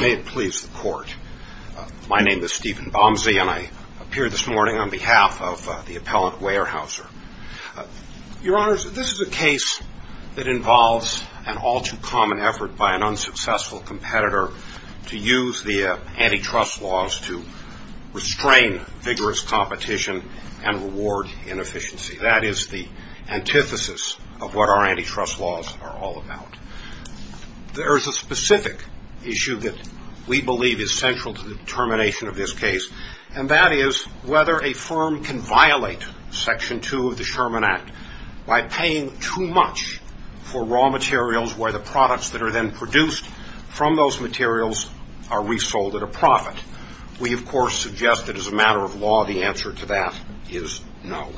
May it please the Court. My name is Stephen Bomsey, and I appear this morning on behalf of the appellant Weyerhaeuser. Your Honors, this is a case that involves an all-too-common effort by an unsuccessful competitor to use the antitrust laws to restrain vigorous competition and reward inefficiency. That is the antithesis of what our antitrust laws are all about. There is a specific issue that we believe is central to the determination of this case, and that is whether a firm can violate Section 2 of the Sherman Act by paying too much for raw materials where the products that are then produced from those materials are resold at a profit. We, of course, suggest that as a matter of law, the answer to that is no.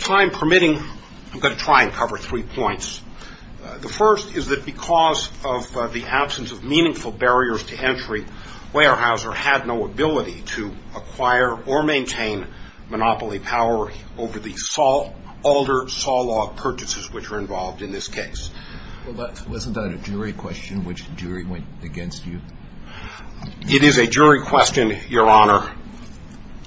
Time permitting, I'm going to try and cover three points. The first is that because of the absence of meaningful barriers to entry, Weyerhaeuser had no ability to acquire or maintain monopoly power over the alder saw log purchases which are involved in this case. Well, wasn't that a jury question which the jury went against you? It is a jury question, Your Honor,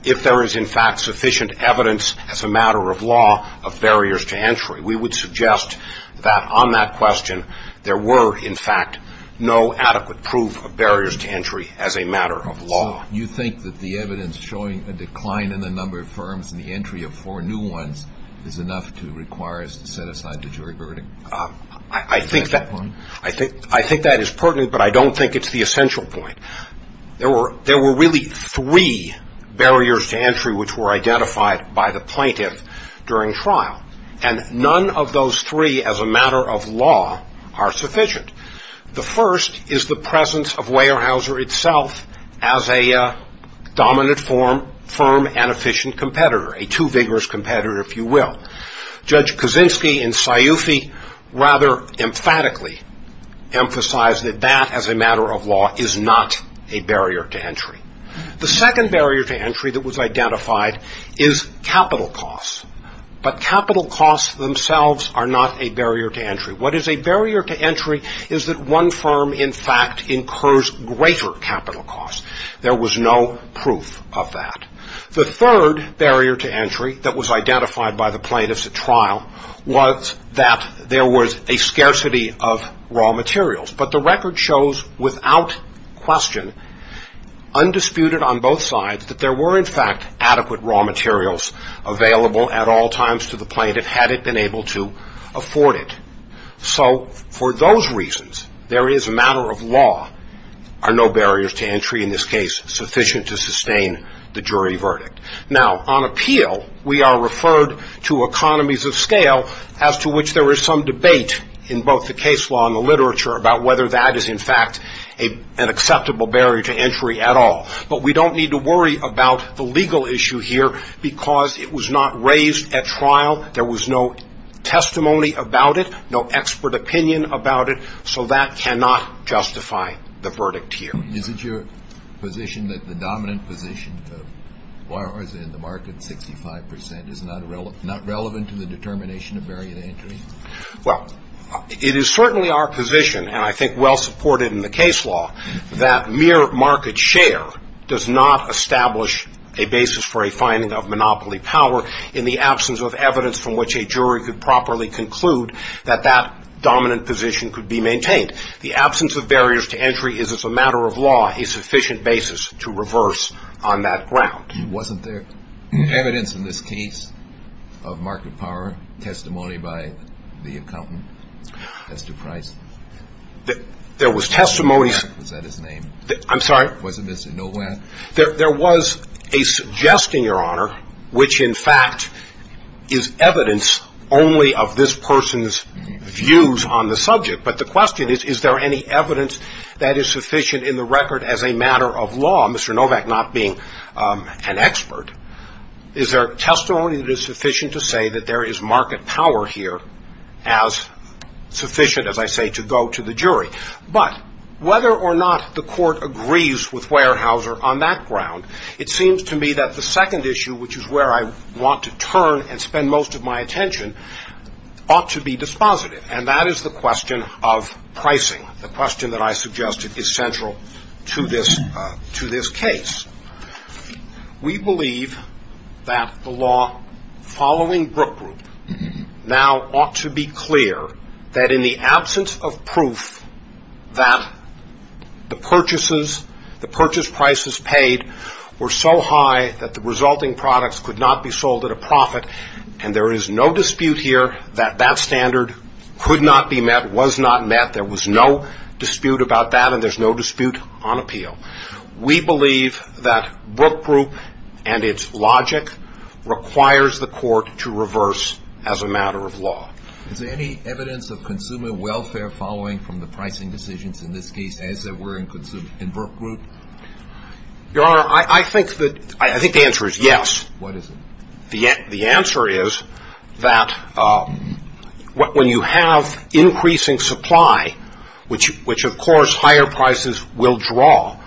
if there is in fact sufficient evidence as a matter of law of barriers to entry. We would suggest that on that question there were in fact no adequate proof of barriers to entry as a matter of law. So you think that the evidence showing a decline in the number of firms and the entry of four new ones is enough to require us to set aside the jury verdict? I think that is pertinent, but I don't think it's the essential point. There were really three barriers to entry which were identified by the plaintiff during trial, and none of those three as a matter of law are sufficient. The first is the presence of Weyerhaeuser itself as a dominant firm and efficient competitor, a too vigorous competitor, if you will. Judge Kaczynski and Sciufi rather emphatically emphasized that that as a matter of law is not a barrier to entry. The second barrier to entry that was identified is capital costs. But capital costs themselves are not a barrier to entry. What is a barrier to entry is that one firm in fact incurs greater capital costs. There was no proof of that. The third barrier to entry that was identified by the plaintiffs at trial was that there was a scarcity of raw materials. But the record shows without question, undisputed on both sides, that there were in fact adequate raw materials available at all times to the plaintiff had it been able to afford it. So for those reasons, there is a matter of law are no barriers to entry in this case sufficient to sustain the jury verdict. Now, on appeal, we are referred to economies of scale as to which there is some debate in both the case law and the literature about whether that is in fact an acceptable barrier to entry at all. But we don't need to worry about the legal issue here because it was not raised at trial. There was no testimony about it, no expert opinion about it. So that cannot justify the verdict here. Is it your position that the dominant position in the market, 65%, is not relevant to the determination of barrier to entry? Well, it is certainly our position, and I think well supported in the case law, that mere market share does not establish a basis for a finding of monopoly power in the absence of evidence from which a jury could properly conclude that that dominant position could be maintained. The absence of barriers to entry is, as a matter of law, a sufficient basis to reverse on that ground. Wasn't there evidence in this case of market power, testimony by the accountant, Mr. Price? There was testimony. Was that his name? I'm sorry? Was it Mr. Nowak? There was a suggestion, Your Honor, which in fact is evidence only of this person's views on the subject. But the question is, is there any evidence that is sufficient in the record as a matter of law, Mr. Nowak not being an expert? Is there testimony that is sufficient to say that there is market power here as sufficient, as I say, to go to the jury? But whether or not the court agrees with Weyerhaeuser on that ground, it seems to me that the second issue, which is where I want to turn and spend most of my attention, ought to be dispositive, and that is the question of pricing. The question that I suggested is central to this case. We believe that the law following Brook Group now ought to be clear that in the absence of proof that the purchases, the purchase prices paid were so high that the resulting products could not be sold at a profit, and there is no dispute here that that standard could not be met, was not met. There was no dispute about that, and there's no dispute on appeal. We believe that Brook Group and its logic requires the court to reverse as a matter of law. Is there any evidence of consumer welfare following from the pricing decisions in this case as there were in Brook Group? Your Honor, I think the answer is yes. What is it? The answer is that when you have increasing supply, which of course higher prices will draw,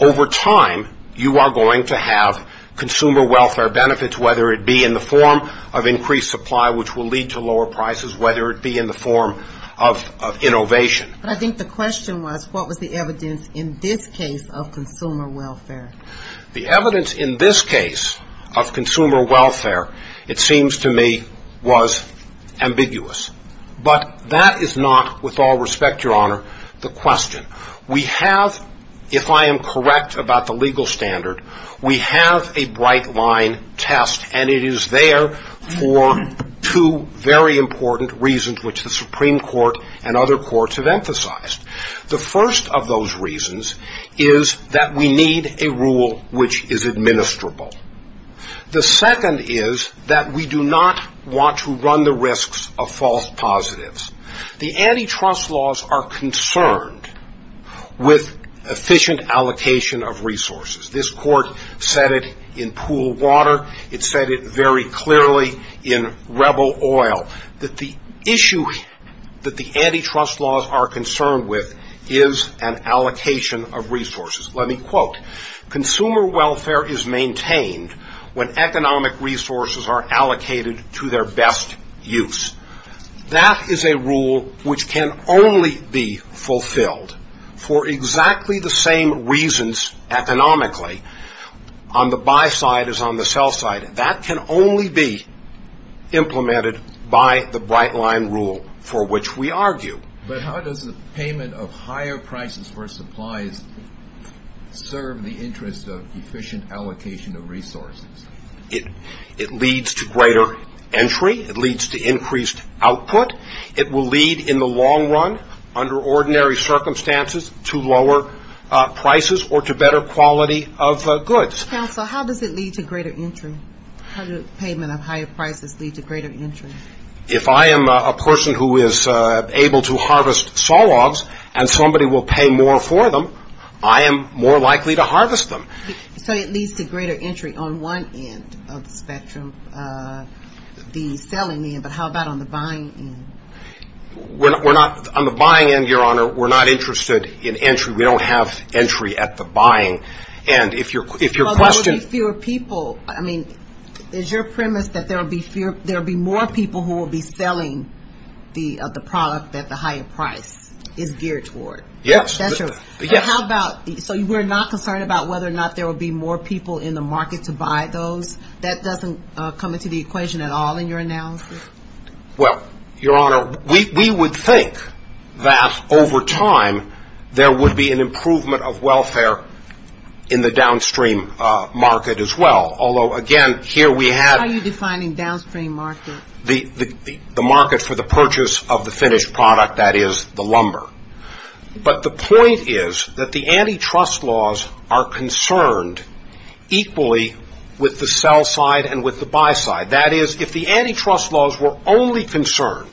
over time you are going to have consumer welfare benefits, whether it be in the form of increased supply, which will lead to lower prices, whether it be in the form of innovation. But I think the question was what was the evidence in this case of consumer welfare? The evidence in this case of consumer welfare, it seems to me, was ambiguous. But that is not, with all respect, Your Honor, the question. We have, if I am correct about the legal standard, we have a bright line test, and it is there for two very important reasons which the Supreme Court and other courts have emphasized. The first of those reasons is that we need a rule which is administrable. The second is that we do not want to run the risks of false positives. The antitrust laws are concerned with efficient allocation of resources. This court said it in Pool Water. It said it very clearly in Rebel Oil, that the issue that the antitrust laws are concerned with is an allocation of resources. Let me quote, Consumer welfare is maintained when economic resources are allocated to their best use. That is a rule which can only be fulfilled for exactly the same reasons economically, on the buy side as on the sell side. That can only be implemented by the bright line rule for which we argue. But how does the payment of higher prices for supplies serve the interest of efficient allocation of resources? It leads to greater entry. It leads to increased output. It will lead in the long run, under ordinary circumstances, to lower prices or to better quality of goods. Counsel, how does it lead to greater entry? How does payment of higher prices lead to greater entry? If I am a person who is able to harvest saw logs and somebody will pay more for them, I am more likely to harvest them. So it leads to greater entry on one end of the spectrum, the selling end. But how about on the buying end? On the buying end, Your Honor, we're not interested in entry. We don't have entry at the buying end. But there will be fewer people. I mean, is your premise that there will be more people who will be selling the product that the higher price is geared toward? Yes. So we're not concerned about whether or not there will be more people in the market to buy those? That doesn't come into the equation at all in your analysis? Well, Your Honor, we would think that over time there would be an improvement of welfare in the downstream market as well. Although, again, here we have the market for the purchase of the finished product, that is the lumber. But the point is that the antitrust laws are concerned equally with the sell side and with the buy side. That is, if the antitrust laws were only concerned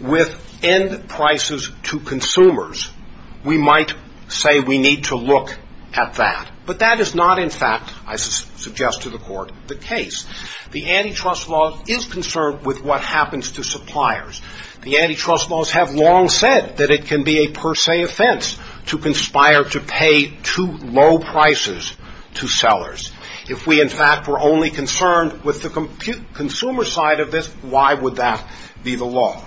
with end prices to consumers, we might say we need to look at that. But that is not, in fact, I suggest to the Court, the case. The antitrust law is concerned with what happens to suppliers. The antitrust laws have long said that it can be a per se offense to conspire to pay too low prices to sellers. If we, in fact, were only concerned with the consumer side of this, why would that be the law?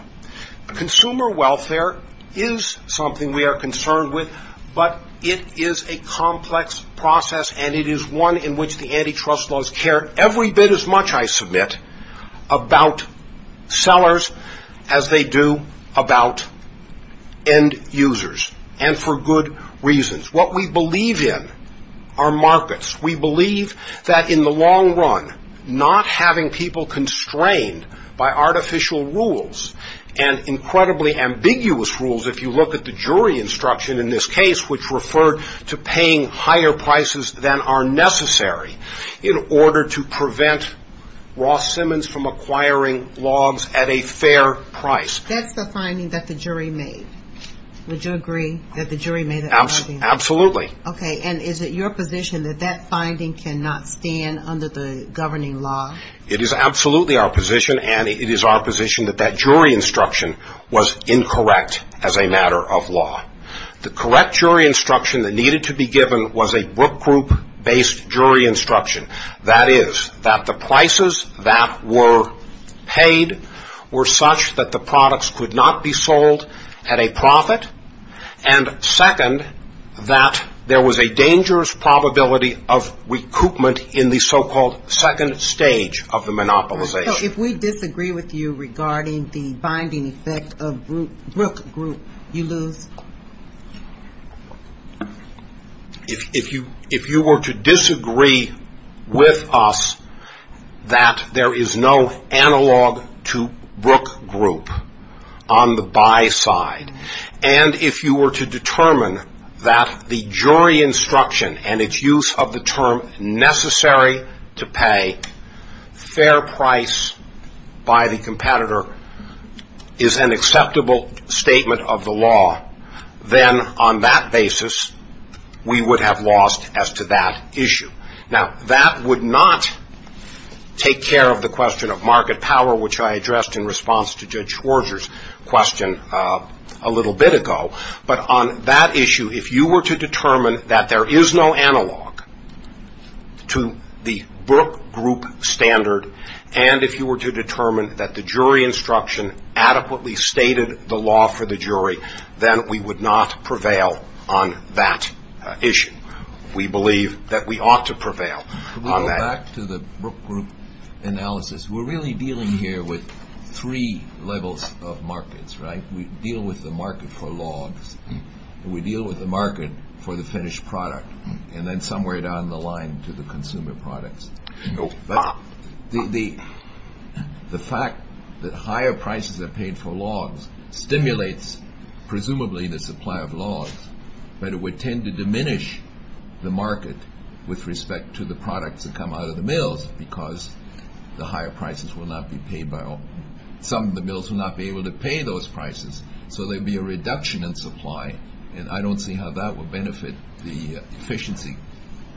Consumer welfare is something we are concerned with, but it is a complex process, and it is one in which the antitrust laws care every bit as much, I submit, about sellers as they do about end users, and for good reasons. What we believe in are markets. We believe that in the long run, not having people constrained by artificial rules and incredibly ambiguous rules, if you look at the jury instruction in this case, which referred to paying higher prices than are necessary in order to prevent Ross Simmons from acquiring logs at a fair price. That's the finding that the jury made. Would you agree that the jury made that finding? Absolutely. Okay, and is it your position that that finding cannot stand under the governing law? It is absolutely our position, and it is our position that that jury instruction was incorrect as a matter of law. The correct jury instruction that needed to be given was a group-based jury instruction. That is, that the prices that were paid were such that the products could not be sold at a profit, and second, that there was a dangerous probability of recoupment in the so-called second stage of the monopolization. So if we disagree with you regarding the binding effect of group, you lose? If you were to disagree with us that there is no analog to Brook Group on the buy side, and if you were to determine that the jury instruction and its use of the term necessary to pay fair price by the competitor is an acceptable statement of the law, then on that basis, we would have lost as to that issue. Now, that would not take care of the question of market power, which I addressed in response to Judge Schwarzer's question a little bit ago, but on that issue, if you were to determine that there is no analog to the Brook Group standard, and if you were to determine that the jury instruction adequately stated the law for the jury, then we would not prevail on that issue. We believe that we ought to prevail on that. Can we go back to the Brook Group analysis? We're really dealing here with three levels of markets, right? We deal with the market for logs, and we deal with the market for the finished product, and then somewhere down the line to the consumer products. The fact that higher prices are paid for logs stimulates presumably the supply of logs, but it would tend to diminish the market with respect to the products that come out of the mills because the higher prices will not be paid by all. Some of the mills will not be able to pay those prices, so there would be a reduction in supply, and I don't see how that would benefit the efficiency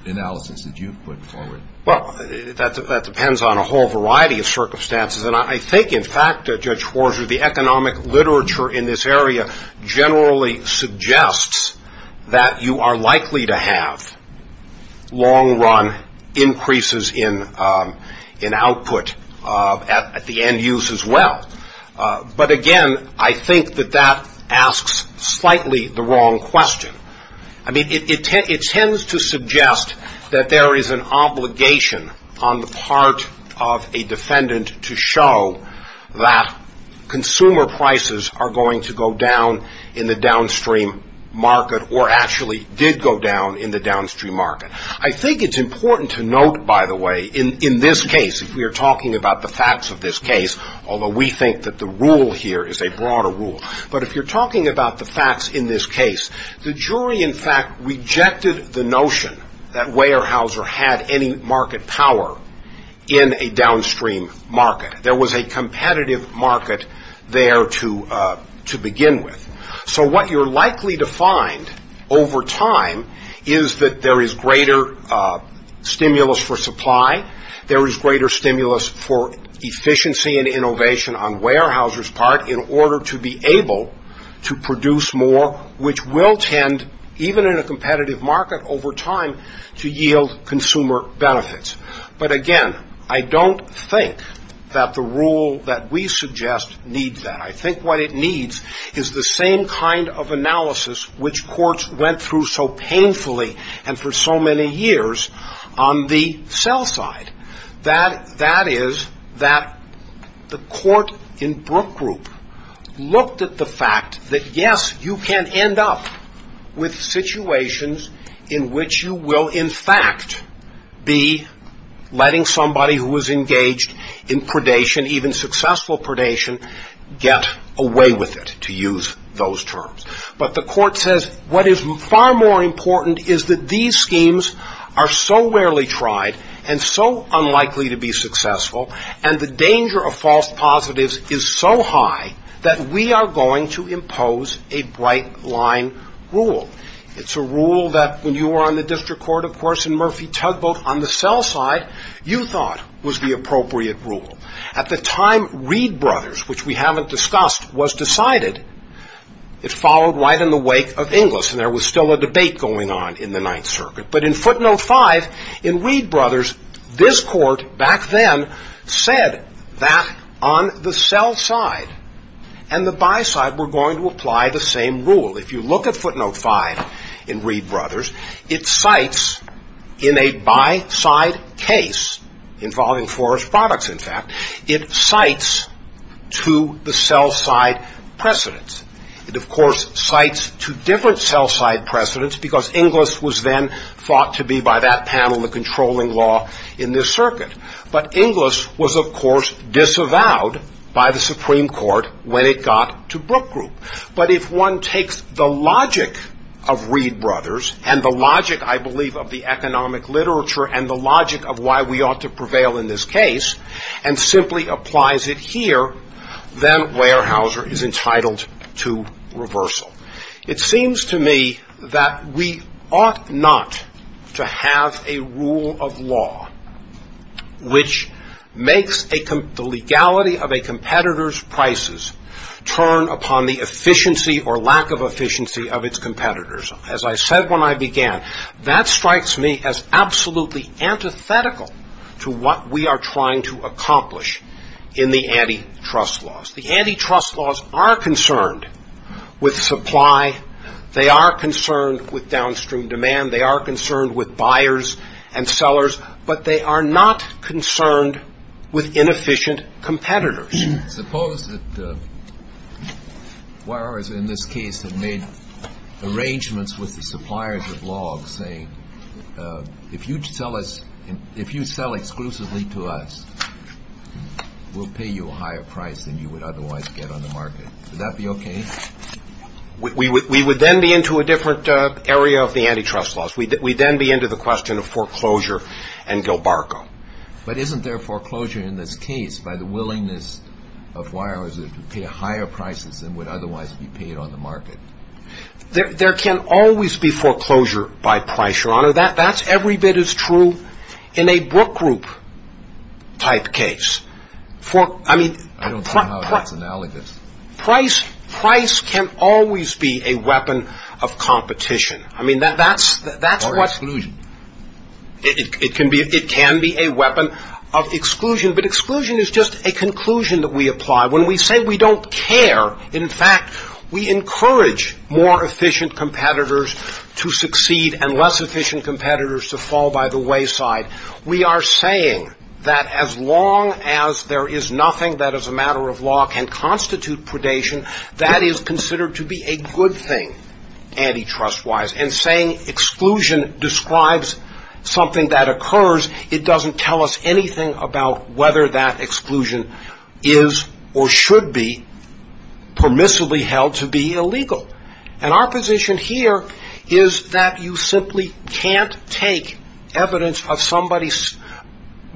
analysis that you've put forward. Well, that depends on a whole variety of circumstances, and I think, in fact, Judge Hoarser, the economic literature in this area generally suggests that you are likely to have long-run increases in output at the end use as well. But, again, I think that that asks slightly the wrong question. I mean, it tends to suggest that there is an obligation on the part of a defendant to show that consumer prices are going to go down in the downstream market or actually did go down in the downstream market. I think it's important to note, by the way, in this case, if we are talking about the facts of this case, although we think that the rule here is a broader rule, but if you're talking about the facts in this case, the jury, in fact, rejected the notion that Weyerhaeuser had any market power in a downstream market. There was a competitive market there to begin with. So what you're likely to find over time is that there is greater stimulus for supply, there is greater stimulus for efficiency and innovation on Weyerhaeuser's part in order to be able to produce more, which will tend, even in a competitive market over time, to yield consumer benefits. But, again, I don't think that the rule that we suggest needs that. I think what it needs is the same kind of analysis which courts went through so painfully and for so many years on the sell side. That is that the court in Brook Group looked at the fact that, yes, you can end up with situations in which you will, in fact, be letting somebody who is engaged in predation, even successful predation, get away with it, to use those terms. But the court says what is far more important is that these schemes are so rarely tried and so unlikely to be successful and the danger of false positives is so high that we are going to impose a bright line rule. It's a rule that when you were on the district court, of course, in Murphy-Tugboat on the sell side, you thought was the appropriate rule. At the time, Reed Brothers, which we haven't discussed, was decided. It followed right in the wake of Inglis, and there was still a debate going on in the Ninth Circuit. But in footnote five, in Reed Brothers, this court back then said that on the sell side and the buy side were going to apply the same rule. If you look at footnote five in Reed Brothers, it cites in a buy side case, involving Forrest Products, in fact, it cites to the sell side precedence. It, of course, cites to different sell side precedence because Inglis was then thought to be, by that panel, the controlling law in this circuit. But Inglis was, of course, disavowed by the Supreme Court when it got to Brook Group. But if one takes the logic of Reed Brothers and the logic, I believe, of the economic literature and the logic of why we ought to prevail in this case and simply applies it here, then Weyerhaeuser is entitled to reversal. It seems to me that we ought not to have a rule of law which makes the legality of a competitor's prices turn upon the efficiency or lack of efficiency of its competitors. As I said when I began, that strikes me as absolutely antithetical to what we are trying to accomplish in the antitrust laws. The antitrust laws are concerned with supply. They are concerned with downstream demand. They are concerned with buyers and sellers. But they are not concerned with inefficient competitors. Suppose that Weyerhaeuser, in this case, had made arrangements with the suppliers of logs saying, if you sell exclusively to us, we'll pay you a higher price than you would otherwise get on the market. Would that be okay? We would then be into a different area of the antitrust laws. We'd then be into the question of foreclosure and Gilbargo. But isn't there foreclosure in this case by the willingness of Weyerhaeuser to pay higher prices than would otherwise be paid on the market? There can always be foreclosure by price, Your Honor. That's every bit as true in a Brook Group-type case. I don't see how that's analogous. Price can always be a weapon of competition. Or exclusion. It can be a weapon of exclusion. But exclusion is just a conclusion that we apply. When we say we don't care, in fact, we encourage more efficient competitors to succeed and less efficient competitors to fall by the wayside. We are saying that as long as there is nothing that as a matter of law can constitute predation, that is considered to be a good thing antitrust-wise. And saying exclusion describes something that occurs, it doesn't tell us anything about whether that exclusion is or should be permissibly held to be illegal. And our position here is that you simply can't take evidence of somebody's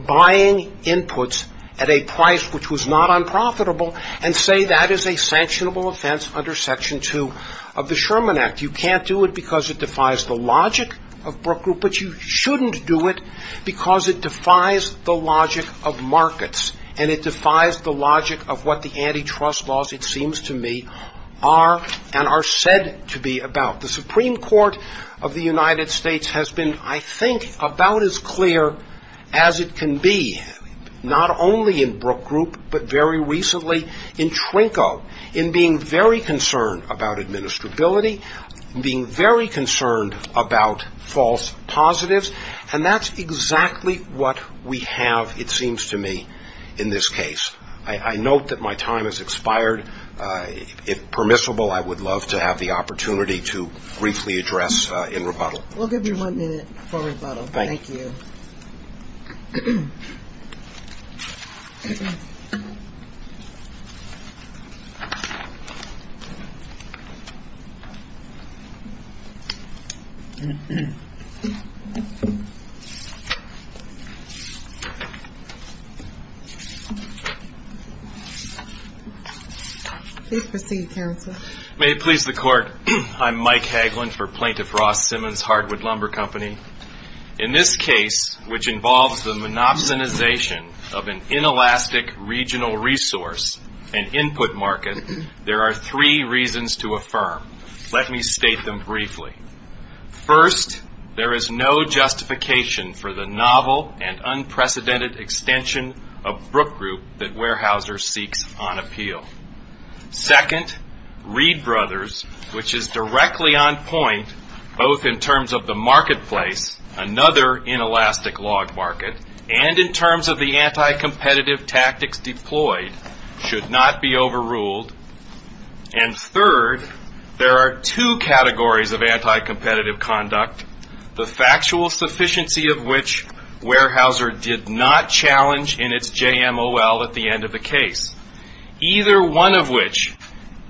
buying inputs at a price which was not unprofitable and say that is a sanctionable offense under Section 2 of the Sherman Act. You can't do it because it defies the logic of Brook Group, but you shouldn't do it because it defies the logic of markets. And it defies the logic of what the antitrust laws, it seems to me, are and are said to be about. The Supreme Court of the United States has been, I think, about as clear as it can be, not only in Brook Group, but very recently in Trinco, in being very concerned about administrability, being very concerned about false positives. And that's exactly what we have, it seems to me, in this case. I note that my time has expired. If permissible, I would love to have the opportunity to briefly address in rebuttal. We'll give you one minute for rebuttal. Thank you. Please proceed, counsel. May it please the Court. I'm Mike Hagelin for Plaintiff Ross Simmons Hardwood Lumber Company. In this case, which involves the monopsonization of an inelastic regional resource, an input market, there are three reasons to affirm. Let me state them briefly. First, there is no justification for the novel and unprecedented extension of Brook Group that Weyerhaeuser seeks on appeal. Second, Reed Brothers, which is directly on point, both in terms of the marketplace, another inelastic log market, and in terms of the anti-competitive tactics deployed, should not be overruled. And third, there are two categories of anti-competitive conduct, the factual sufficiency of which Weyerhaeuser did not challenge in its JMOL at the end of the case. Either one of which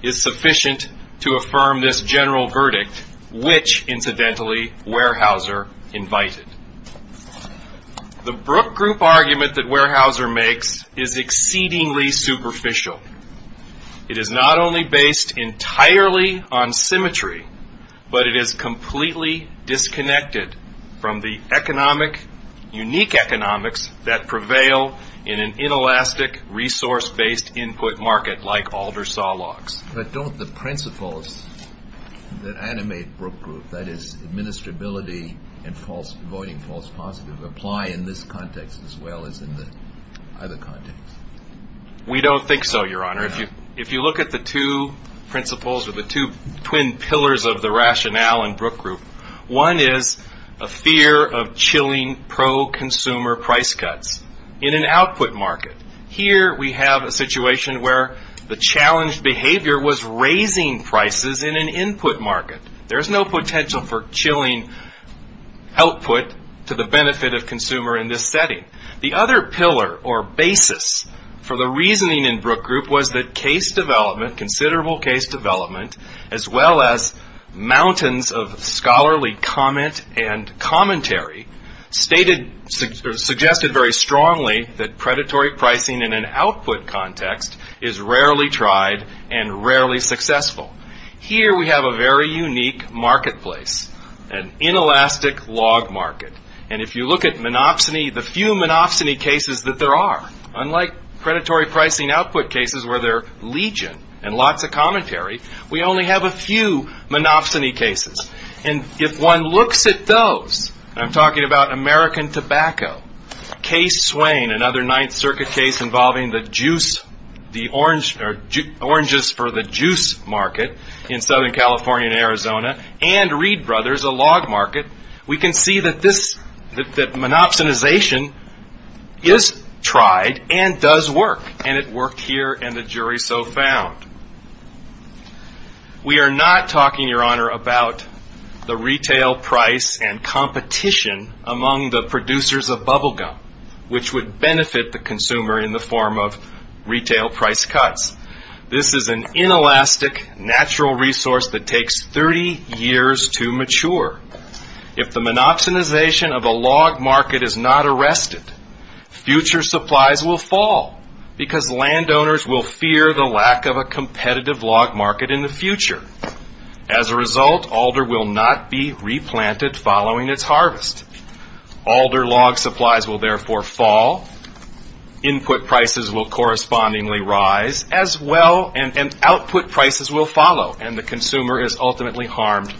is sufficient to affirm this general verdict, which, incidentally, Weyerhaeuser invited. The Brook Group argument that Weyerhaeuser makes is exceedingly superficial. It is not only based entirely on symmetry, but it is completely disconnected from the unique economics that prevail in an inelastic resource-based input market like Alder saw logs. But don't the principles that animate Brook Group, that is, administrability and avoiding false positives, apply in this context as well as in the other context? We don't think so, Your Honor. If you look at the two principles or the two twin pillars of the rationale in Brook Group, one is a fear of chilling pro-consumer price cuts in an output market. Here we have a situation where the challenged behavior was raising prices in an input market. There is no potential for chilling output to the benefit of consumer in this setting. The other pillar or basis for the reasoning in Brook Group was that considerable case development, as well as mountains of scholarly comment and commentary, suggested very strongly that predatory pricing in an output context is rarely tried and rarely successful. Here we have a very unique marketplace, an inelastic log market. If you look at the few monopsony cases that there are, unlike predatory pricing output cases where there are legion and lots of commentary, we only have a few monopsony cases. If one looks at those, and I'm talking about American Tobacco, Case Swain, another Ninth Circuit case involving the oranges for the juice market in Southern California and Arizona, and Reed Brothers, a log market, we can see that monopsonization is tried and does work, and it worked here and the jury so found. We are not talking, Your Honor, about the retail price and competition among the producers of bubble gum, which would benefit the consumer in the form of retail price cuts. This is an inelastic natural resource that takes 30 years to mature. If the monopsonization of a log market is not arrested, future supplies will fall because landowners will fear the lack of a competitive log market in the future. As a result, alder will not be replanted following its harvest. Alder log supplies will therefore fall. Input prices will correspondingly rise as well, and output prices will follow, and the consumer is ultimately harmed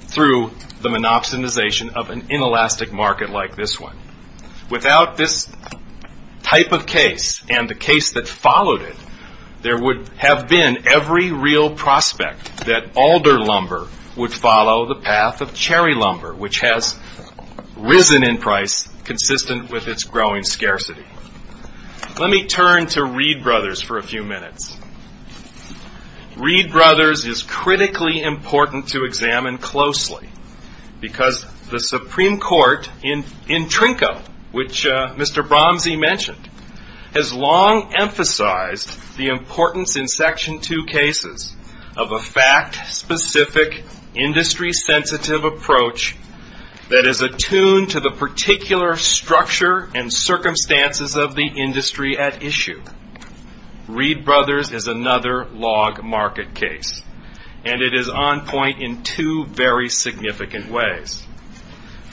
through the monopsonization of an inelastic market like this one. Without this type of case and the case that followed it, there would have been every real prospect that alder lumber would follow the path of cherry lumber, which has risen in price consistent with its growing scarcity. Let me turn to Reed Brothers for a few minutes. Reed Brothers is critically important to examine closely because the Supreme Court in Trinco, which Mr. Bromsey mentioned, has long emphasized the importance in Section 2 cases of a fact-specific, industry-sensitive approach that is attuned to the particular structure and circumstances of the industry at issue. Reed Brothers is another log market case, and it is on point in two very significant ways.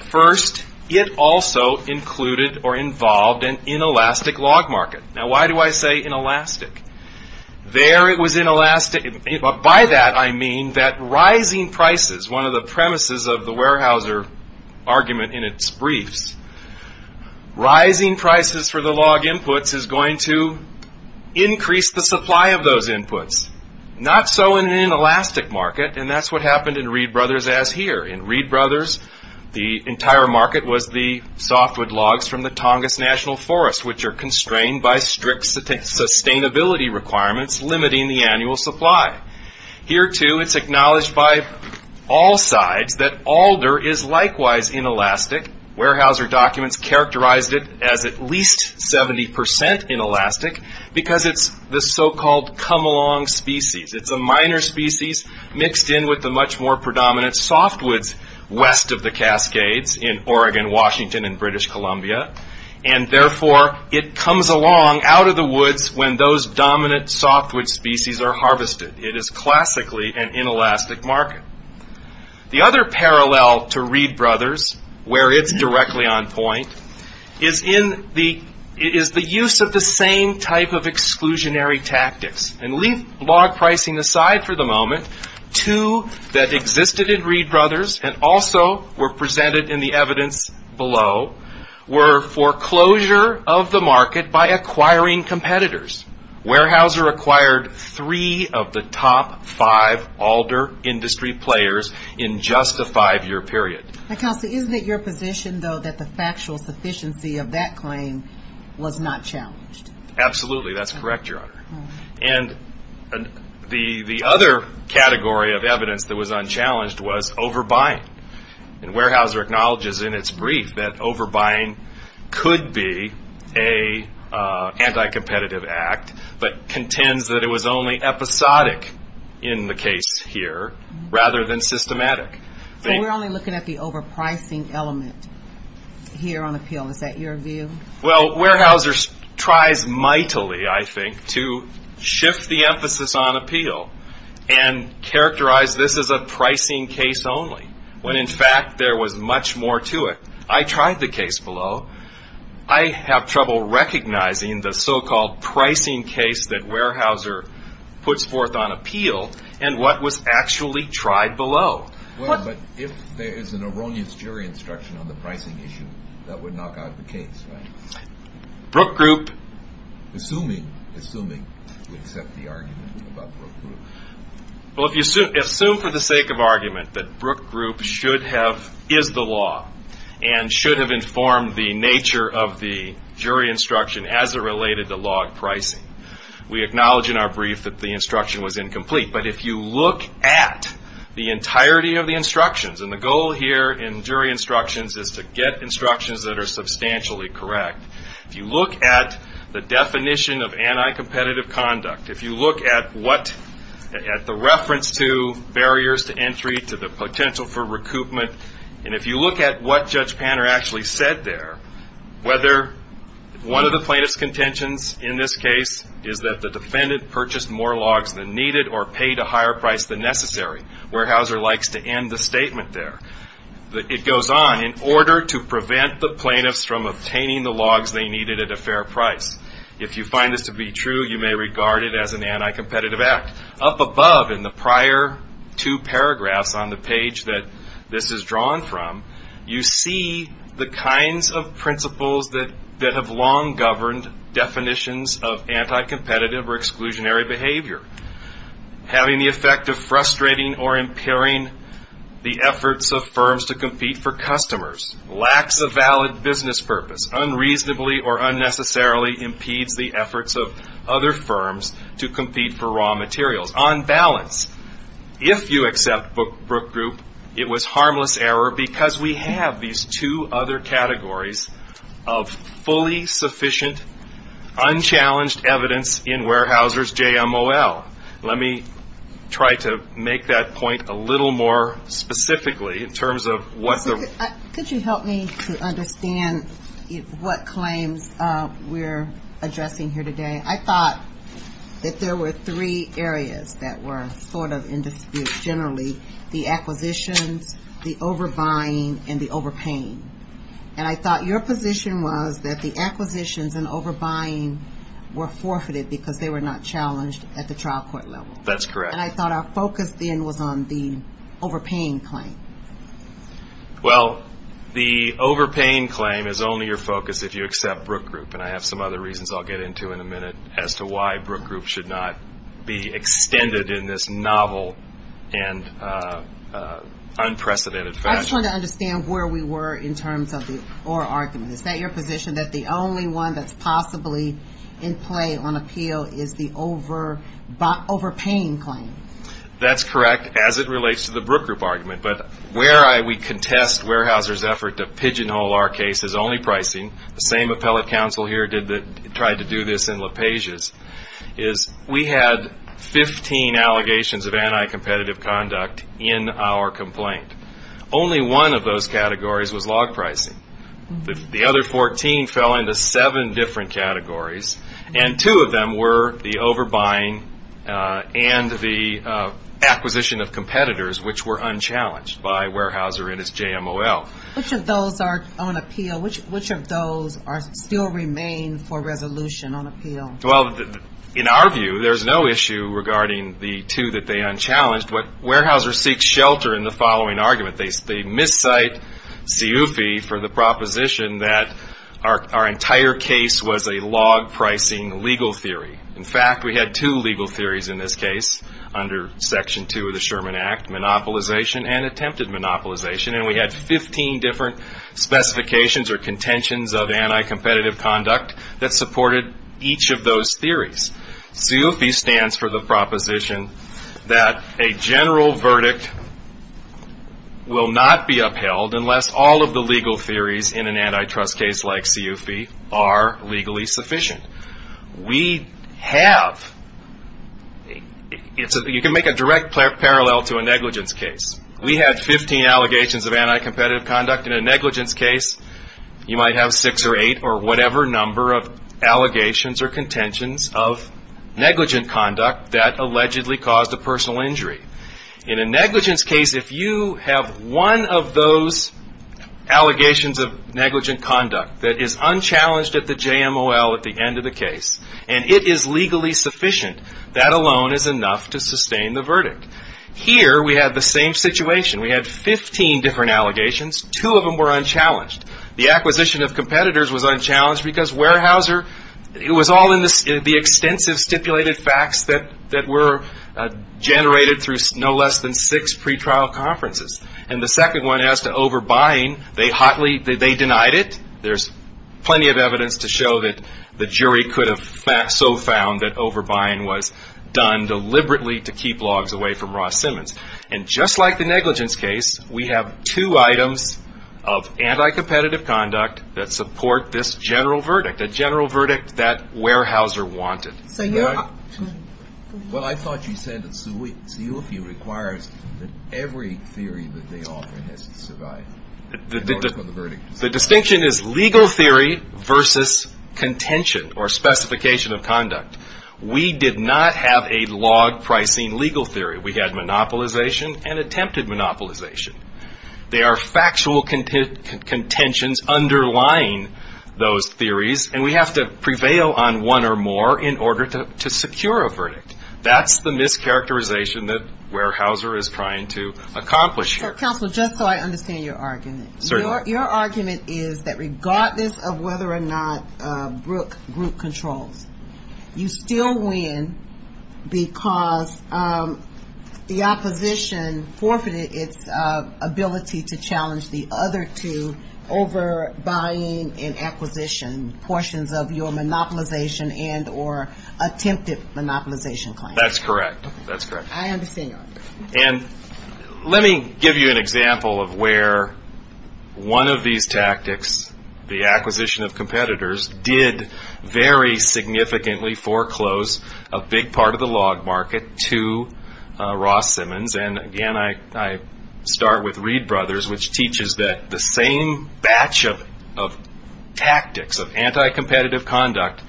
First, it also included or involved an inelastic log market. Now, why do I say inelastic? By that, I mean that rising prices, one of the premises of the Weyerhaeuser argument in its briefs, rising prices for the log inputs is going to increase the supply of those inputs. Not so in an inelastic market, and that's what happened in Reed Brothers as here. In Reed Brothers, the entire market was the softwood logs from the Tongass National Forest, which are constrained by strict sustainability requirements limiting the annual supply. Here, too, it's acknowledged by all sides that alder is likewise inelastic. Weyerhaeuser documents characterized it as at least 70 percent inelastic because it's the so-called come-along species. It's a minor species mixed in with the much more predominant softwoods west of the Cascades in Oregon, Washington, and British Columbia. Therefore, it comes along out of the woods when those dominant softwood species are harvested. It is classically an inelastic market. The other parallel to Reed Brothers, where it's directly on point, is the use of the same type of exclusionary tactics. Leave log pricing aside for the moment. Two that existed in Reed Brothers and also were presented in the evidence below were foreclosure of the market by acquiring competitors. Weyerhaeuser acquired three of the top five alder industry players in just a five-year period. Counsel, isn't it your position, though, that the factual sufficiency of that claim was not challenged? Absolutely, that's correct, Your Honor. The other category of evidence that was unchallenged was overbuying. Weyerhaeuser acknowledges in its brief that overbuying could be an anti-competitive act but contends that it was only episodic in the case here rather than systematic. We're only looking at the overpricing element here on appeal. Is that your view? Well, Weyerhaeuser tries mightily, I think, to shift the emphasis on appeal and characterize this as a pricing case only when, in fact, there was much more to it. I tried the case below. I have trouble recognizing the so-called pricing case that Weyerhaeuser puts forth on appeal and what was actually tried below. But if there is an erroneous jury instruction on the pricing issue, that would knock out the case, right? Brook Group, assuming you accept the argument about Brook Group. Well, if you assume for the sake of argument that Brook Group is the law and should have informed the nature of the jury instruction as it related to log pricing, we acknowledge in our brief that the instruction was incomplete. But if you look at the entirety of the instructions, and the goal here in jury instructions is to get instructions that are substantially correct. If you look at the definition of anti-competitive conduct, if you look at the reference to barriers to entry, to the potential for recoupment, and if you look at what Judge Panner actually said there, whether one of the plaintiff's contentions in this case is that the defendant purchased more logs than needed or paid a higher price than necessary. Weyerhaeuser likes to end the statement there. It goes on, in order to prevent the plaintiffs from obtaining the logs they needed at a fair price. If you find this to be true, you may regard it as an anti-competitive act. Up above in the prior two paragraphs on the page that this is drawn from, you see the kinds of principles that have long governed definitions of anti-competitive or exclusionary behavior. Having the effect of frustrating or impairing the efforts of firms to compete for customers. Lacks a valid business purpose. Unreasonably or unnecessarily impedes the efforts of other firms to compete for raw materials. On balance, if you accept Brook Group, it was harmless error because we have these two other categories of fully sufficient, unchallenged evidence in Weyerhaeuser's JMOL. Let me try to make that point a little more specifically in terms of what the... Could you help me to understand what claims we're addressing here today? I thought that there were three areas that were sort of in dispute generally. The acquisitions, the overbuying, and the overpaying. And I thought your position was that the acquisitions and overbuying were forfeited because they were not challenged at the trial court level. That's correct. And I thought our focus then was on the overpaying claim. Well, the overpaying claim is only your focus if you accept Brook Group. And I have some other reasons I'll get into in a minute as to why Brook Group should not be extended in this novel and unprecedented fashion. I just wanted to understand where we were in terms of the oral argument. Is that your position, that the only one that's possibly in play on appeal is the overpaying claim? That's correct as it relates to the Brook Group argument. But where we contest Weyerhaeuser's effort to pigeonhole our case is only pricing. The same appellate counsel here tried to do this in LaPage's, is we had 15 allegations of anti-competitive conduct in our complaint. Only one of those categories was log pricing. The other 14 fell into seven different categories, and two of them were the overbuying and the acquisition of competitors, which were unchallenged by Weyerhaeuser and his JMOL. Which of those are on appeal? Which of those still remain for resolution on appeal? Well, in our view, there's no issue regarding the two that they unchallenged. But Weyerhaeuser seeks shelter in the following argument. They miscite Siufi for the proposition that our entire case was a log pricing legal theory. In fact, we had two legal theories in this case under Section 2 of the Sherman Act, monopolization and attempted monopolization. And we had 15 different specifications or contentions of anti-competitive conduct that supported each of those theories. Siufi stands for the proposition that a general verdict will not be upheld unless all of the legal theories in an antitrust case like Siufi are legally sufficient. We have, you can make a direct parallel to a negligence case. We have 15 allegations of anti-competitive conduct. In a negligence case, you might have six or eight or whatever number of allegations or contentions of negligent conduct that allegedly caused a personal injury. In a negligence case, if you have one of those allegations of negligent conduct that is unchallenged at the JMOL at the end of the case, and it is legally sufficient, that alone is enough to sustain the verdict. Here we had the same situation. We had 15 different allegations. Two of them were unchallenged. The acquisition of competitors was unchallenged because Weyerhaeuser, it was all in the extensive stipulated facts that were generated through no less than six pretrial conferences. And the second one as to overbuying, they hotly, they denied it. There's plenty of evidence to show that the jury could have so found that overbuying was done deliberately to keep logs away from Ross Simmons. And just like the negligence case, we have two items of anti-competitive conduct that support this general verdict, a general verdict that Weyerhaeuser wanted. Well, I thought you said that CEUFI requires that every theory that they offer has to survive. The distinction is legal theory versus contention or specification of conduct. We did not have a log pricing legal theory. We had monopolization and attempted monopolization. There are factual contentions underlying those theories, and we have to prevail on one or more in order to secure a verdict. That's the mischaracterization that Weyerhaeuser is trying to accomplish here. Counsel, just so I understand your argument. Certainly. Your argument is that regardless of whether or not Brooke group controls, you still win because the opposition forfeited its ability to challenge the other two over buying and acquisition portions of your monopolization and or attempted monopolization claim. That's correct. I understand your argument. And let me give you an example of where one of these tactics, the acquisition of competitors, did very significantly foreclose a big part of the log market to Ross Simmons. And, again, I start with Reed Brothers, which teaches that the same batch of tactics of anti-competitive conduct,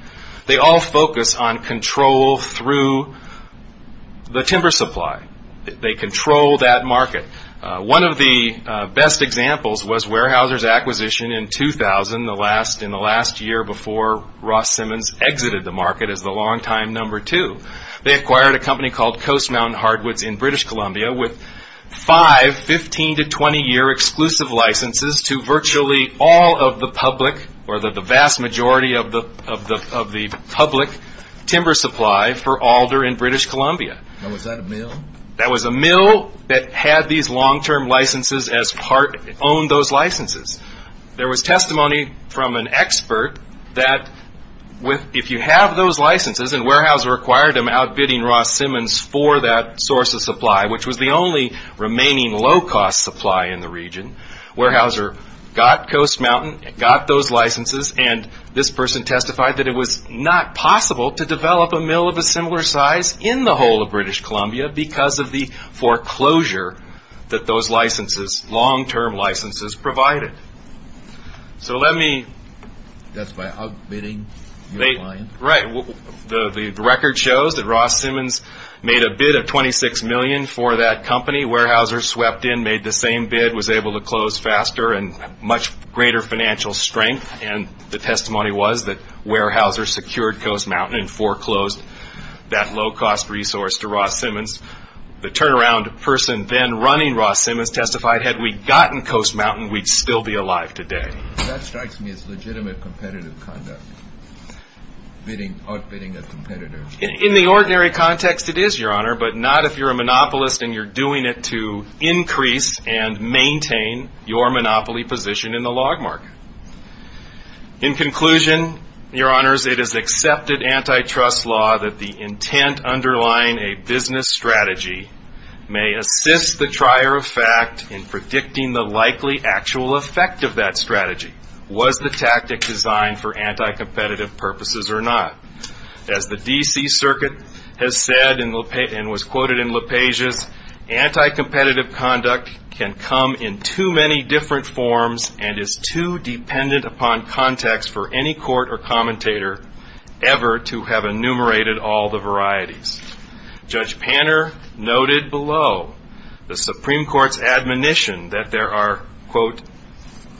they all focus on control through the timber supply. They control that market. One of the best examples was Weyerhaeuser's acquisition in 2000, in the last year before Ross Simmons exited the market as the longtime number two. They acquired a company called Coast Mountain Hardwoods in British Columbia with five 15- to 20-year exclusive licenses to virtually all of the public or the vast majority of the public timber supply for Alder in British Columbia. Now, was that a mill? A mill that had these long-term licenses as part, owned those licenses. There was testimony from an expert that if you have those licenses, and Weyerhaeuser acquired them outbidding Ross Simmons for that source of supply, which was the only remaining low-cost supply in the region, Weyerhaeuser got Coast Mountain, got those licenses, and this person testified that it was not possible to develop a mill of a similar size in the whole of British Columbia because of the foreclosure that those licenses, long-term licenses, provided. So let me... That's by outbidding your client? Right. The record shows that Ross Simmons made a bid of $26 million for that company. Weyerhaeuser swept in, made the same bid, was able to close faster and much greater financial strength, and the testimony was that Weyerhaeuser secured Coast Mountain and foreclosed that low-cost resource to Ross Simmons. The turnaround person then running Ross Simmons testified, had we gotten Coast Mountain, we'd still be alive today. That strikes me as legitimate competitive conduct, outbidding a competitor. In the ordinary context, it is, Your Honor, but not if you're a monopolist and you're doing it to increase and maintain your monopoly position in the log market. In conclusion, Your Honors, it is accepted antitrust law that the intent underlying a business strategy may assist the trier of fact in predicting the likely actual effect of that strategy, was the tactic designed for anti-competitive purposes or not. As the D.C. Circuit has said and was quoted in LaPage's, anti-competitive conduct can come in too many different forms and is too dependent upon context for any court or commentator ever to have enumerated all the varieties. Judge Panner noted below the Supreme Court's admonition that there are, quote,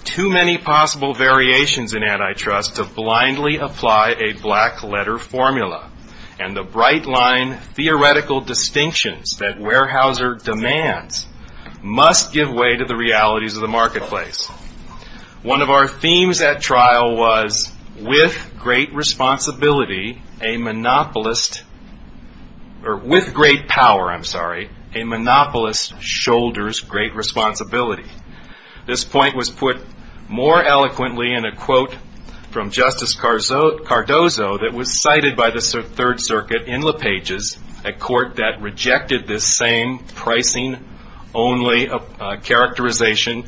too many possible variations in antitrust to blindly apply a black-letter formula, and the bright-line theoretical distinctions that Weyerhaeuser demands must give way to the realities of the marketplace. One of our themes at trial was, with great power, a monopolist shoulders great responsibility. This point was put more eloquently in a quote from Justice Cardozo that was cited by the Third Circuit in LaPage's, a court that rejected this same pricing-only characterization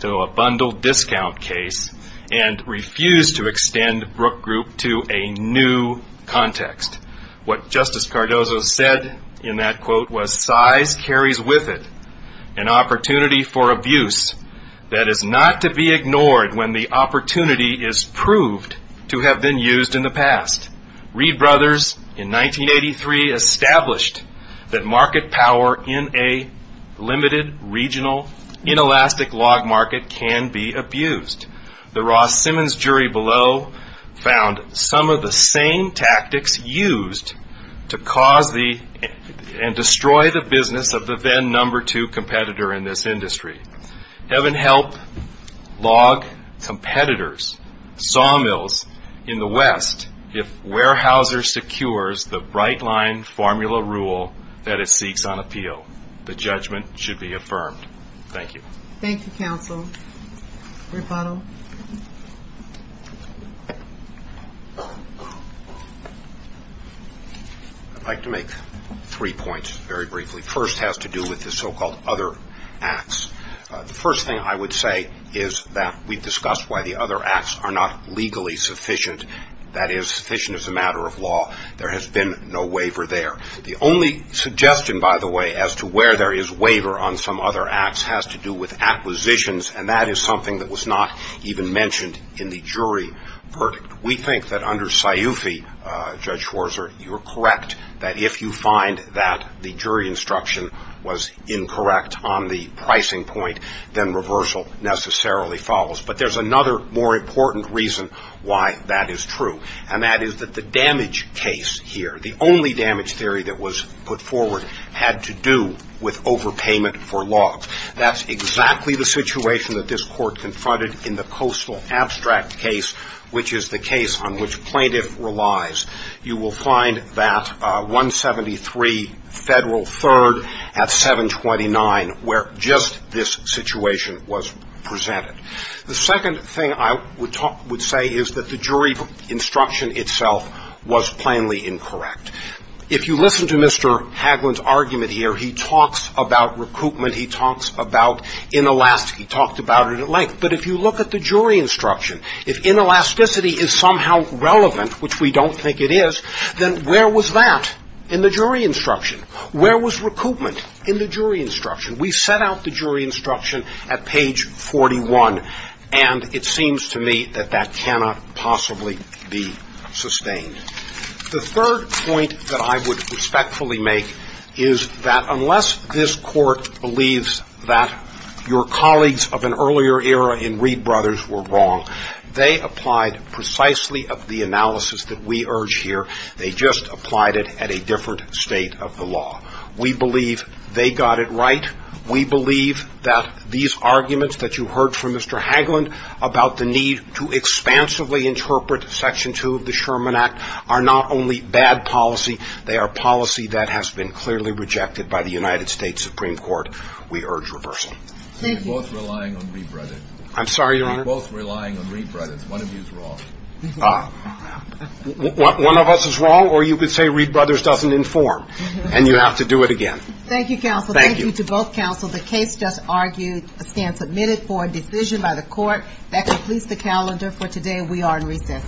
to a bundled discount case and refused to extend Brook Group to a new context. What Justice Cardozo said in that quote was, size carries with it an opportunity for abuse that is not to be ignored when the opportunity is proved to have been used in the past. Reed Brothers, in 1983, established that market power in a limited, regional, inelastic log market can be abused. The Ross Simmons jury below found some of the same tactics used to cause and destroy the business of the then number two competitor in this industry. Heaven help log competitors' sawmills in the West if Weyerhaeuser secures the bright-line formula rule that it seeks on appeal. The judgment should be affirmed. Thank you. Thank you, counsel. Rapato? I'd like to make three points, very briefly. The first has to do with the so-called other acts. The first thing I would say is that we've discussed why the other acts are not legally sufficient, that is, sufficient as a matter of law. There has been no waiver there. The only suggestion, by the way, as to where there is waiver on some other acts has to do with acquisitions, and that is something that was not even mentioned in the jury verdict. We think that under Sciufi, Judge Schwarzer, you're correct, that if you find that the jury instruction was incorrect on the pricing point, then reversal necessarily follows. But there's another, more important reason why that is true, and that is that the damage case here, the only damage theory that was put forward had to do with overpayment for logs. That's exactly the situation that this Court confronted in the Coastal Abstract case, which is the case on which plaintiff relies. You will find that 173 Federal 3rd at 729, where just this situation was presented. The second thing I would say is that the jury instruction itself was plainly incorrect. If you listen to Mr. Hagelin's argument here, he talks about recoupment, he talks about inelasticity, he talked about it at length. But if you look at the jury instruction, if inelasticity is somehow relevant, which we don't think it is, then where was that in the jury instruction? Where was recoupment in the jury instruction? We set out the jury instruction at page 41, and it seems to me that that cannot possibly be sustained. The third point that I would respectfully make is that unless this Court believes that your colleagues of an earlier era in Reed Brothers were wrong, they applied precisely of the analysis that we urge here. They just applied it at a different state of the law. We believe they got it right. We believe that these arguments that you heard from Mr. Hagelin about the need to expansively interpret Section 2 of the Sherman Act are not only bad policy, they are policy that has been clearly rejected by the United States Supreme Court. We urge reversal. Thank you. We're both relying on Reed Brothers. I'm sorry, Your Honor? We're both relying on Reed Brothers. One of you is wrong. Ah. One of us is wrong, or you could say Reed Brothers doesn't inform, and you have to do it again. Thank you, counsel. Thank you. Thank you to both counsel. The case just argued, stands admitted for a decision by the Court. That completes the calendar for today. We are in recess.